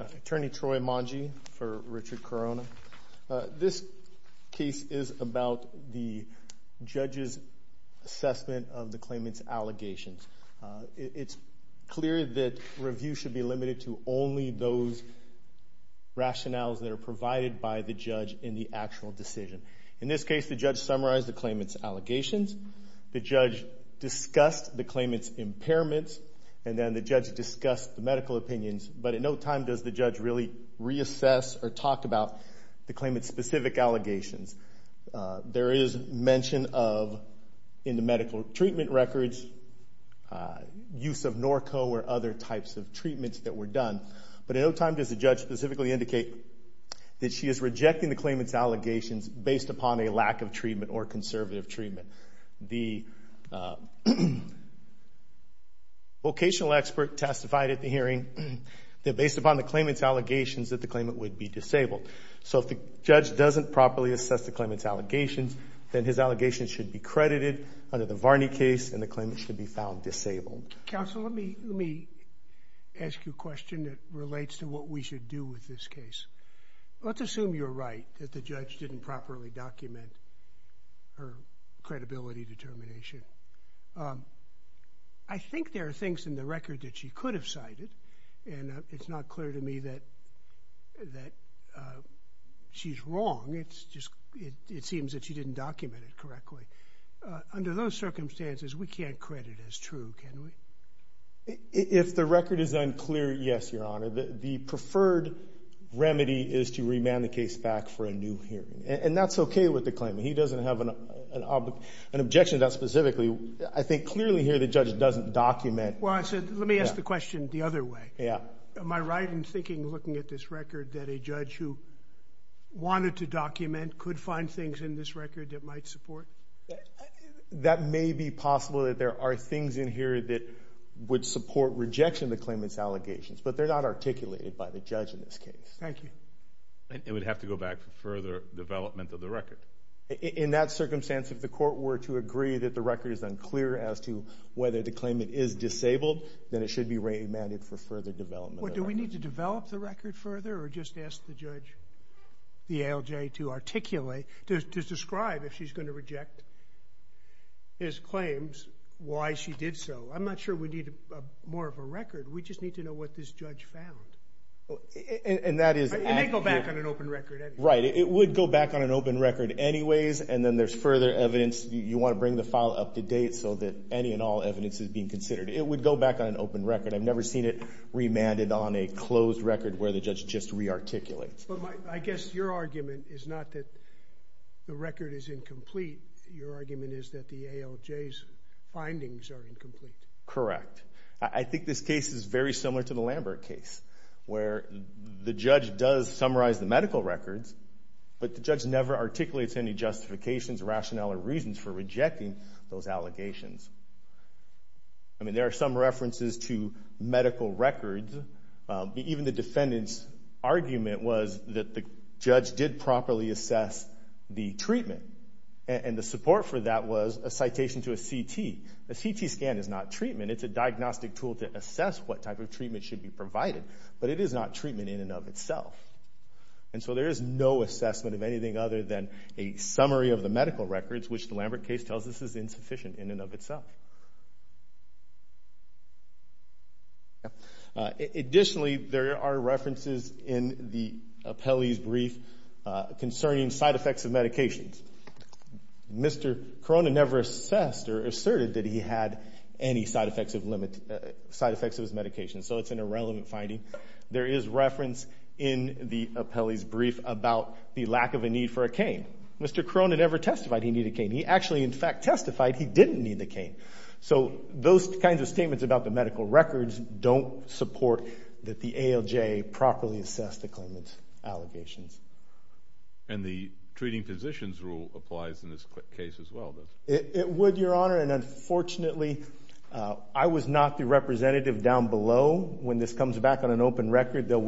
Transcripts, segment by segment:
Attorney Troy Mongee for Richard Corona. This case is about the judge's assessment of the claimant's allegations. It's clear that review should be limited to only those rationales that are provided by the judge in the actual decision. In this case the judge summarized the claimant's allegations, the judge discussed the claimant's impairments, and then the judge discussed the medical opinions, but at no time does the judge really reassess or talk about the claimant's specific allegations. There is mention of, in the medical treatment records, use of Norco or other types of treatments that were done, but at no time does the judge specifically indicate that she is rejecting the claimant's allegations based upon a lack of treatment or conservative treatment. The vocational expert testified at the hearing that based upon the claimant's allegations that the claimant would be disabled. So if the judge doesn't properly assess the claimant's allegations, then his allegations should be credited under the Varney case and the claimant should be found disabled. Counsel, let me ask you a question that relates to what we should do with this case. Let's assume you're right, that the judge didn't properly document her credibility determination. I could have cited and it's not clear to me that that she's wrong. It's just it seems that she didn't document it correctly. Under those circumstances, we can't credit as true, can we? If the record is unclear, yes, Your Honor. The preferred remedy is to remand the case back for a new hearing, and that's okay with the claimant. He doesn't have an objection to that specifically. I think let me ask the question the other way. Yeah. Am I right in thinking, looking at this record, that a judge who wanted to document could find things in this record that might support? That may be possible that there are things in here that would support rejection of the claimant's allegations, but they're not articulated by the judge in this case. Thank you. It would have to go back for further development of the record. In that circumstance, if the court were to then it should be remanded for further development. Do we need to develop the record further or just ask the judge, the ALJ, to articulate, to describe if she's going to reject his claims, why she did so? I'm not sure we need more of a record. We just need to know what this judge found. And that is... It may go back on an open record anyway. Right. It would go back on an open record anyways, and then there's further evidence. You want to bring the file up to date so that any and all evidence is being considered. It would go back on an open record. I've never seen it remanded on a closed record where the judge just re-articulates. But I guess your argument is not that the record is incomplete. Your argument is that the ALJ's findings are incomplete. Correct. I think this case is very similar to the Lambert case, where the judge does summarize the medical records, but the judge never articulates any justifications, rationale, or reasons for rejecting those allegations. I mean, there are some references to medical records. Even the defendant's argument was that the judge did properly assess the treatment. And the support for that was a citation to a CT. A CT scan is not treatment. It's a diagnostic tool to assess what type of treatment should be provided. But it is not treatment in and of itself. And so there is no assessment of anything other than a summary of the medical records, which the Lambert case tells us is insufficient in and of itself. Additionally, there are references in the appellee's brief concerning side effects of medications. Mr. Corona never assessed or asserted that he had any side effects of his medications, so it's an irrelevant finding. There is reference in the appellee's brief about the lack of a need for a cane. Mr. Corona never testified he needed a cane. He actually, in fact, testified he didn't need the cane. So those kinds of statements about the medical records don't support that the ALJ properly assessed the claimant's allegations. And the treating physicians rule applies in this case as well? It would, Your Honor, and unfortunately, I was not the representative down below. When this comes back on an open record, there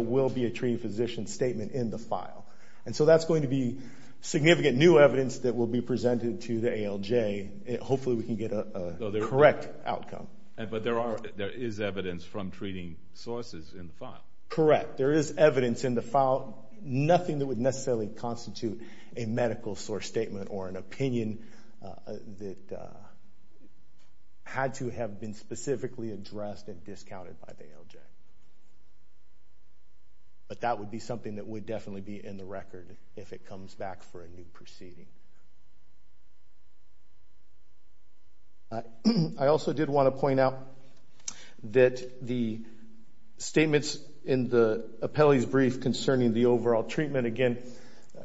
will be a treating physician statement in the file. And so that's going to be significant new evidence that will be presented to the ALJ. Hopefully, we can get a correct outcome. But there is evidence from treating sources in the file. Correct. There is evidence in the file, nothing that would necessarily constitute a medical source statement or an opinion that had to have been specifically addressed and discounted by the ALJ. But that would be something that would definitely be in the record if it comes back for a new proceeding. I also did want to point out that the statements in the appellee's brief concerning the overall treatment, again,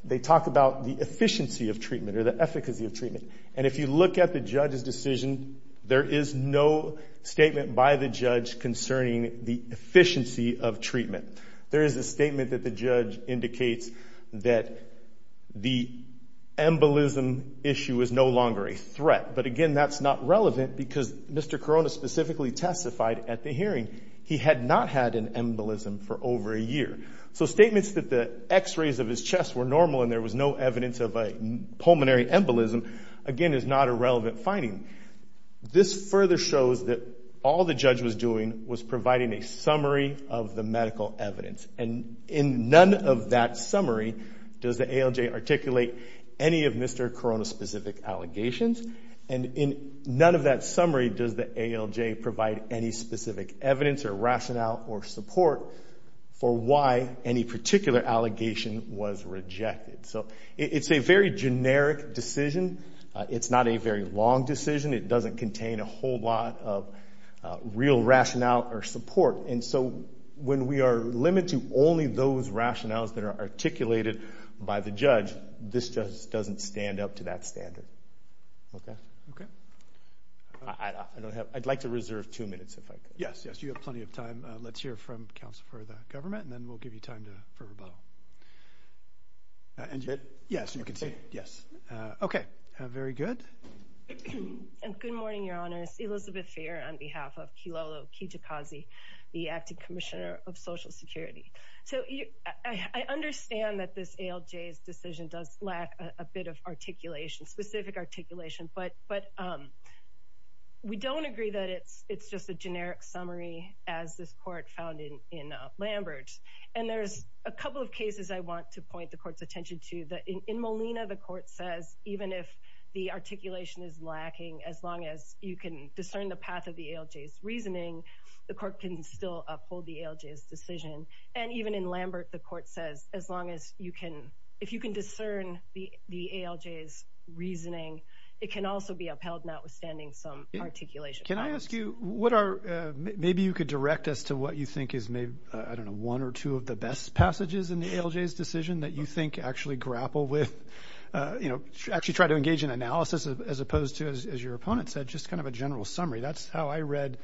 they talk about the efficiency of treatment or the efficacy of treatment. And if you look at the judge's decision, there is no statement by the judge concerning the efficiency of treatment. There is a statement that the judge indicates that the embolism issue is no longer a threat. But again, that's not relevant because Mr. Corona specifically testified at the hearing he had not had an embolism for over a year. So statements that the x-rays of his chest were normal and there was no evidence of this further shows that all the judge was doing was providing a summary of the medical evidence. And in none of that summary, does the ALJ articulate any of Mr. Corona specific allegations? And in none of that summary, does the ALJ provide any specific evidence or rationale or support for why any particular allegation was rejected? So it's a very generic decision. It's not a very long decision. It doesn't contain a whole lot of real rationale or support. And so when we are limited to only those rationales that are articulated by the judge, this just doesn't stand up to that standard. Okay? Okay. I'd like to reserve two minutes if I could. Yes, yes. You have plenty of time. Let's hear from counsel for the government and then we'll give you time for rebuttal. And good morning, Your Honors. Elizabeth Fair on behalf of Kilolo Kijikazi, the Acting Commissioner of Social Security. So I understand that this ALJ's decision does lack a bit of articulation, specific articulation. But we don't agree that it's just a generic summary as this court found in Lambert. And there's a couple of cases I want to point the court's attention to that in the articulation is lacking. As long as you can discern the path of the ALJ's reasoning, the court can still uphold the ALJ's decision. And even in Lambert, the court says, as long as you can, if you can discern the ALJ's reasoning, it can also be upheld notwithstanding some articulation. Can I ask you what are, maybe you could direct us to what you think is maybe, I don't know, one or two of the best passages in the ALJ's decision that you think actually grapple with, you know, actually try to engage in analysis as opposed to, as your opponent said, just kind of a general summary. That's how I read,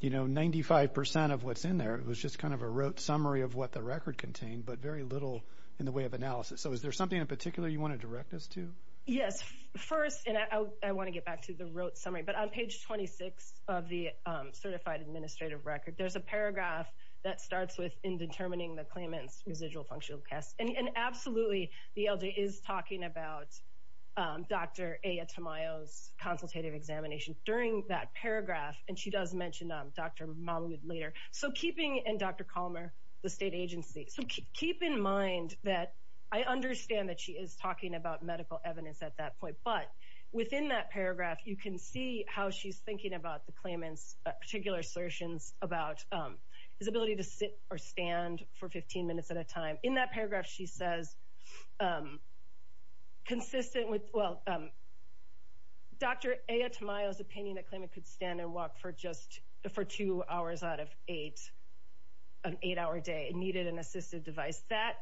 you know, 95% of what's in there. It was just kind of a rote summary of what the record contained, but very little in the way of analysis. So is there something in particular you want to direct us to? Yes. First, and I want to get back to the rote summary. But on page 26 of the Certified Administrative Record, there's a paragraph that starts with in talking about Dr. Aya Tamayo's consultative examination. During that paragraph, and she does mention Dr. Mahmoud later. So keeping, and Dr. Colmer, the state agency. So keep in mind that I understand that she is talking about medical evidence at that point. But within that paragraph, you can see how she's thinking about the claimant's particular assertions about his ability to sit or stand for 15 minutes at a time. In that paragraph, she says, consistent with, well, Dr. Aya Tamayo's opinion that claimant could stand and walk for just, for two hours out of eight, an eight hour day. It needed an assistive device. That,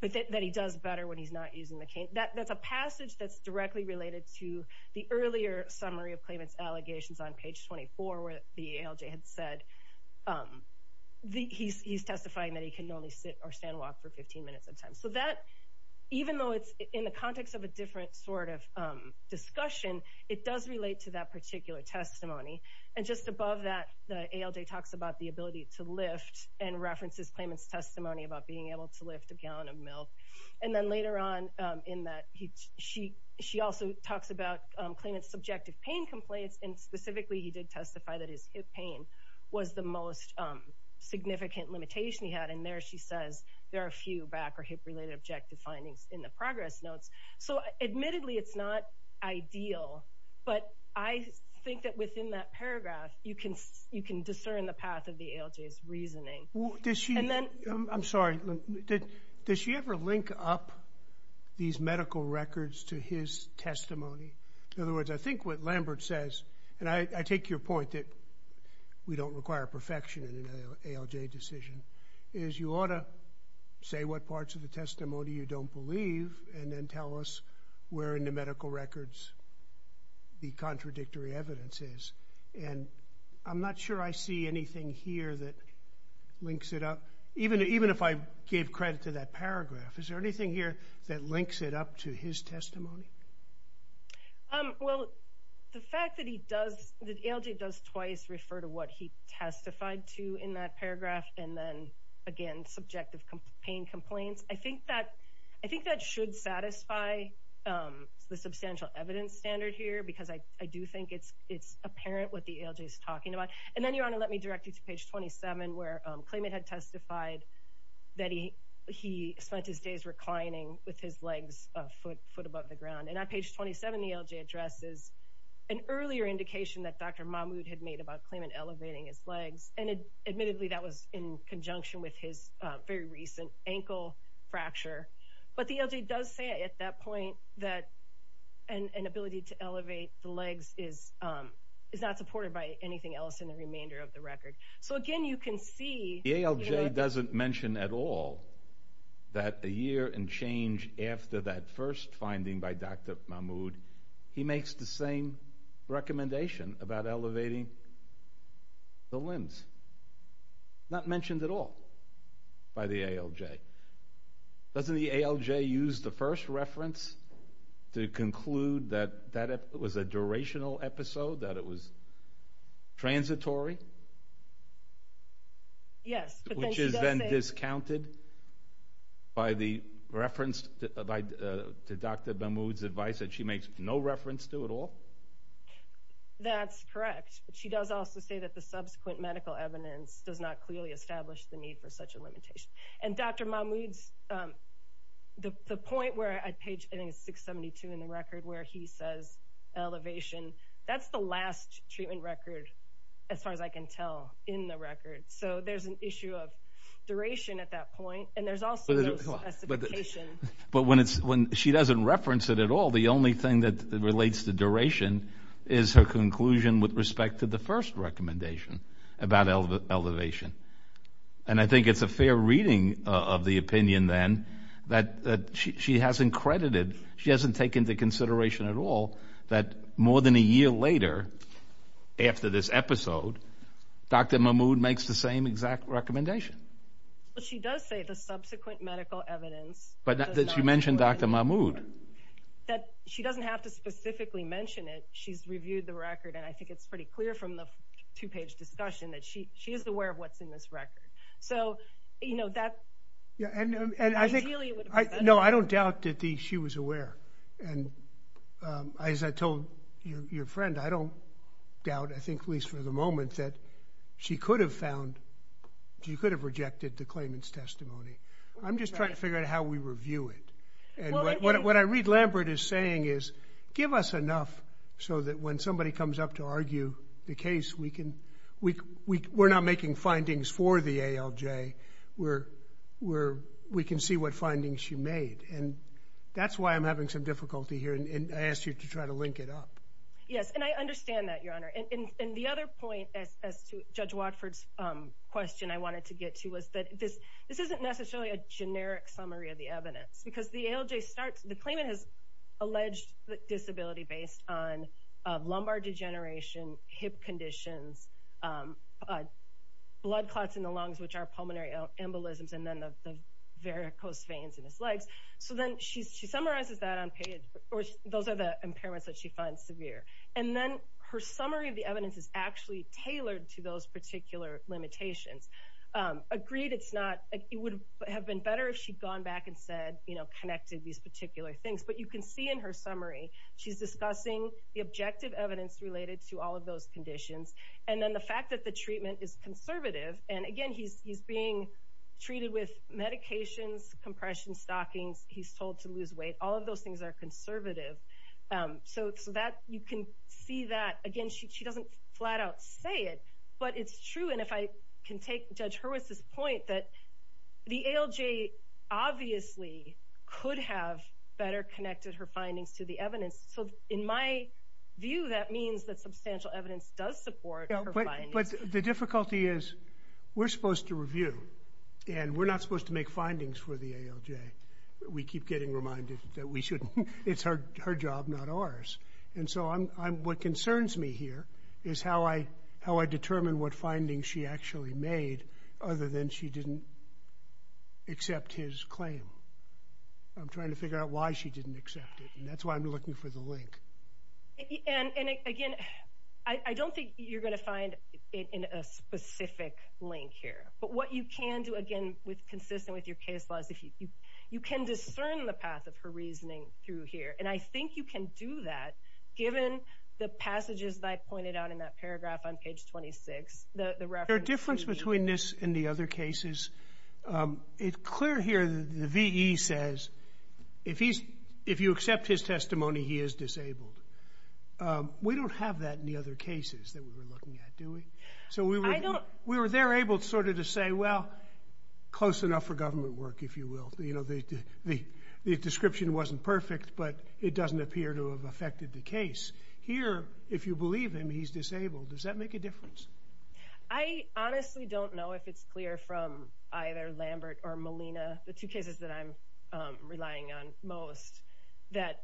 that he does better when he's not using the cane. That's a passage that's directly related to the earlier summary of claimant's allegations on page 24, where the ALJ had said, he's testifying that he can only sit or stand and walk for 15 minutes at a time. So that, even though it's in the context of a different sort of discussion, it does relate to that particular testimony. And just above that, the ALJ talks about the ability to lift and references claimant's testimony about being able to lift a gallon of milk. And then later on in that, he, she, she also talks about claimant's subjective pain complaints. And specifically, he did there, she says, there are a few back or hip related objective findings in the progress notes. So admittedly, it's not ideal, but I think that within that paragraph, you can, you can discern the path of the ALJ's reasoning. Well, does she, I'm sorry, does she ever link up these medical records to his testimony? In other words, I think what Lambert says, and I take your point that we don't require perfection in an ALJ decision, is you ought to say what parts of the testimony you don't believe, and then tell us where in the medical records the contradictory evidence is. And I'm not sure I see anything here that links it up, even, even if I gave credit to that paragraph. Is there anything here that links it up to his testimony? Well, the fact that he does, the ALJ does twice refer to what he testified to in that paragraph, and then again, subjective pain complaints. I think that, I think that should satisfy the substantial evidence standard here, because I, I do think it's, it's apparent what the ALJ is talking about. And then, Your Honor, let me direct you to page 27, where claimant had testified that he, he spent his days reclining with his legs foot, foot above the ground. And on page 27, the ALJ addresses an earlier indication that Dr. Mahmoud had made about claimant elevating his legs, and admittedly, that was in conjunction with his very recent ankle fracture. But the ALJ does say at that point that an ability to elevate the legs is, is not supported by anything else in the remainder of the record. So again, you can see... The ALJ doesn't mention at all that the year and change after that first finding by Dr. Mahmoud, he makes the same recommendation about elevating the limbs. Not mentioned at all by the ALJ. Doesn't the ALJ use the first reference to conclude that, that it was a durational episode, that it was transitory? Yes. Which is then discounted by the reference to Dr. Mahmoud's advice that she makes no reference to at all? That's correct. But she does also say that the subsequent medical evidence does not clearly establish the need for such a limitation. And Dr. Mahmoud's, the point where I page, I think it's 672 in the record, where he says elevation, that's the last treatment record, as far as I can tell in the record. So there's an issue of duration at that point. And there's also... But when it's, when she doesn't reference it at all, the only thing that relates to duration is her conclusion with respect to the first recommendation about elevation. And I think it's a fair reading of the opinion then, that she hasn't credited, she hasn't taken into consideration at all that more than a year later, after this episode, Dr. Mahmoud makes the same exact recommendation. But she does say the subsequent medical evidence... But that she mentioned Dr. Mahmoud. That she doesn't have to specifically mention it, she's reviewed the record, and I think it's pretty clear from the two-page discussion that she, she is aware of what's in this record. So, you know, that... And I think... No, I don't doubt that she was aware. And as I told your friend, I don't doubt, I think at least for the moment, that she could have found, she could have rejected the claimant's testimony. I'm just trying to figure out how we review it. And what I read Lambert is saying is, give us enough so that when somebody comes up to argue the case, we can, we're not making findings for the ALJ, we're, we're, we can see what findings she made. And that's why I'm having some difficulty here, and I asked you to try to link it up. Yes, and I understand that, Your Honor. And the other point, as to Judge Watford's question I wanted to get to, was that this, this isn't necessarily a generic summary of the evidence. Because the ALJ starts, the claimant has alleged disability based on lumbar degeneration, hip conditions, blood clots in the lungs, which are pulmonary embolisms, and then the varicose veins in his legs. So then she summarizes that on page, or those are the impairments that she finds severe. And then her summary of the evidence is actually tailored to those particular limitations. Agreed it's not, it would have been better if she'd gone back and said, you know, connected these particular things. But you can see in her summary, she's discussing the objective evidence related to all of those conditions. And then the fact that the treatment is conservative. And again, he's, he's being treated with medications, compression stockings. He's told to lose weight. All of those things are conservative. So, so that you can see that again, she doesn't flat out say it, but it's true. And if I can take Judge Hurwitz's point that the ALJ obviously could have better connected her findings to the evidence. So in my view, that means that substantial evidence does support her findings. But the difficulty is, we're supposed to review. And we're not supposed to make findings for the ALJ. We keep getting reminded that we shouldn't. It's her, her job, not ours. And so I'm, I'm, what concerns me here is how I, how I determine what findings she actually made, other than she didn't accept his claim. I'm trying to figure out why she didn't accept it. And that's why I'm looking for the link. And again, I don't think you're going to find it in a specific link here. But what you can do, again, with consistent with your case laws, if you, you can discern the path of her reasoning through here. And I think you can do that, given the passages that I pointed out in that paragraph on page 26, the reference. There's a difference between this and the other cases. It's clear here that the VE says, if he's, if you accept his testimony, he is disabled. We don't have that in the other cases that we were looking at, do we? So we were, we were there able to sort of to say, well, close enough for government work, if you will. You know, the, the, the description wasn't perfect, but it doesn't appear to have affected the case. Here, if you believe him, he's disabled. Does that make a difference? I honestly don't know if it's clear from either Lambert or Molina, the two cases that I'm relying on most, that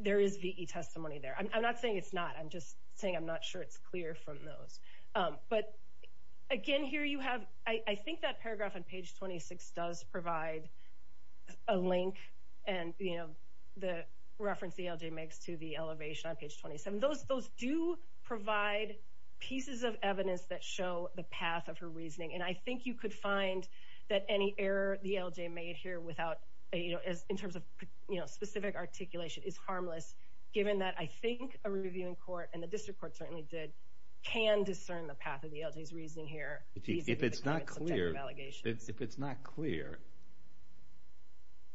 there is VE testimony there. I'm not saying it's not, I'm just saying I'm not sure it's clear from those. But again, here you have, I think that paragraph on page 26 does provide a link and, you know, the reference the LJ makes to the elevation on page 27. Those, those do provide pieces of evidence that show the path of her reasoning. And I think you could find that any error the LJ made here without, you know, as, in terms of, you know, specific articulation is harmless, given that I think a reviewing court, and the district court certainly did, can discern the path of the LJ's reasoning here. If it's not clear, if it's not clear,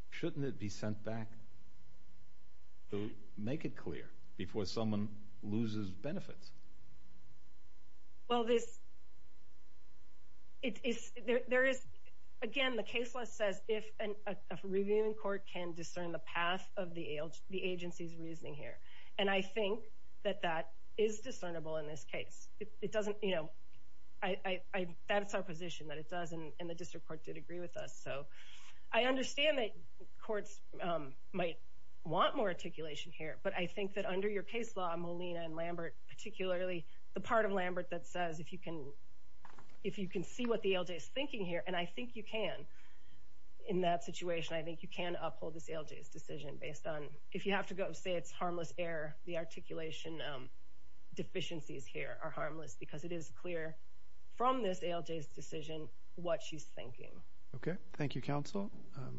shouldn't it be sent back to make it clear? Well, this, it is, there is, again, the case law says if a reviewing court can discern the path of the agency's reasoning here. And I think that that is discernible in this case. It doesn't, you know, I, that's our position that it doesn't, and the district court did agree with us. So I understand that courts might want more articulation here, but I think that under your case law, Molina and Lambert, particularly the part of Lambert that says if you can, if you can see what the LJ is thinking here, and I think you can, in that situation, I think you can uphold this LJ's decision based on, if you have to go and say it's harmless error, the articulation deficiencies here are harmless, because it is clear from this LJ's decision what she's thinking. Okay. Thank you, counsel.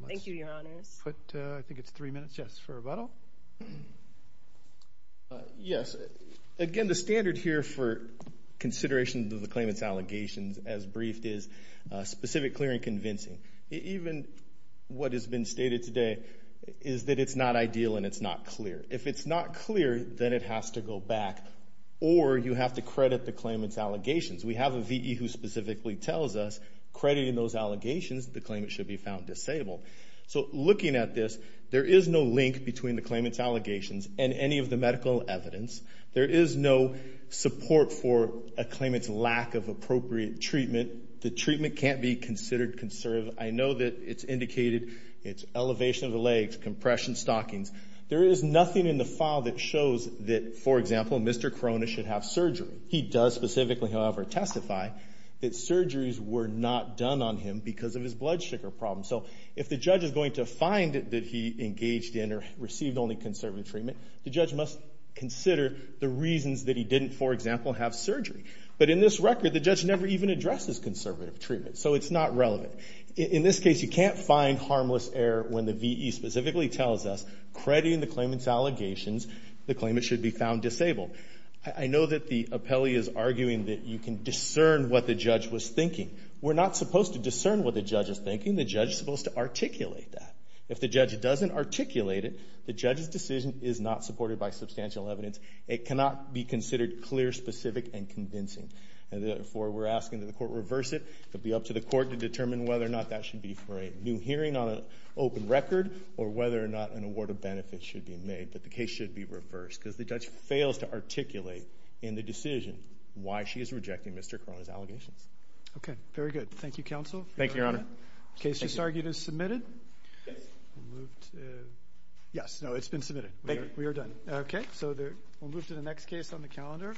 Thank you, your honors. Put, I think it's three minutes, yes, for rebuttal. Yes. Again, the standard here for consideration of the claimant's allegations as briefed is specific, clear, and convincing. Even what has been stated today is that it's not ideal and it's not clear. If it's not clear, then it has to go back, or you have to credit the claimant's allegations. We have a VE who specifically tells us crediting those allegations, the claimant should be found disabled. So looking at this, there is no link between the claimant's evidence, there is no support for a claimant's lack of appropriate treatment. The treatment can't be considered conservative. I know that it's indicated, it's elevation of the legs, compression, stockings. There is nothing in the file that shows that, for example, Mr. Corona should have surgery. He does specifically, however, testify that surgeries were not done on him because of his blood sugar problem. So if the judge is going to find that he engaged in or received only conservative treatment, the judge must consider the reasons that he didn't, for example, have surgery. But in this record, the judge never even addresses conservative treatment, so it's not relevant. In this case, you can't find harmless error when the VE specifically tells us, crediting the claimant's allegations, the claimant should be found disabled. I know that the appellee is arguing that you can discern what the judge was thinking. We're not supposed to discern what the judge is thinking. The judge is supposed to articulate that. If the judge doesn't articulate it, the judge's decision is not supported by substantial evidence. It cannot be considered clear, specific and convincing. And therefore, we're asking that the court reverse it. It'll be up to the court to determine whether or not that should be for a new hearing on an open record or whether or not an award of benefits should be made. But the case should be reversed because the judge fails to articulate in the decision why she is rejecting Mr. Corona's allegations. Okay, very good. Thank you, Counsel. Thank you, Your Honor. Case just argued is submitted. Yes. No, it's been submitted. We're done. Okay, so we'll move to the next case on the calendar.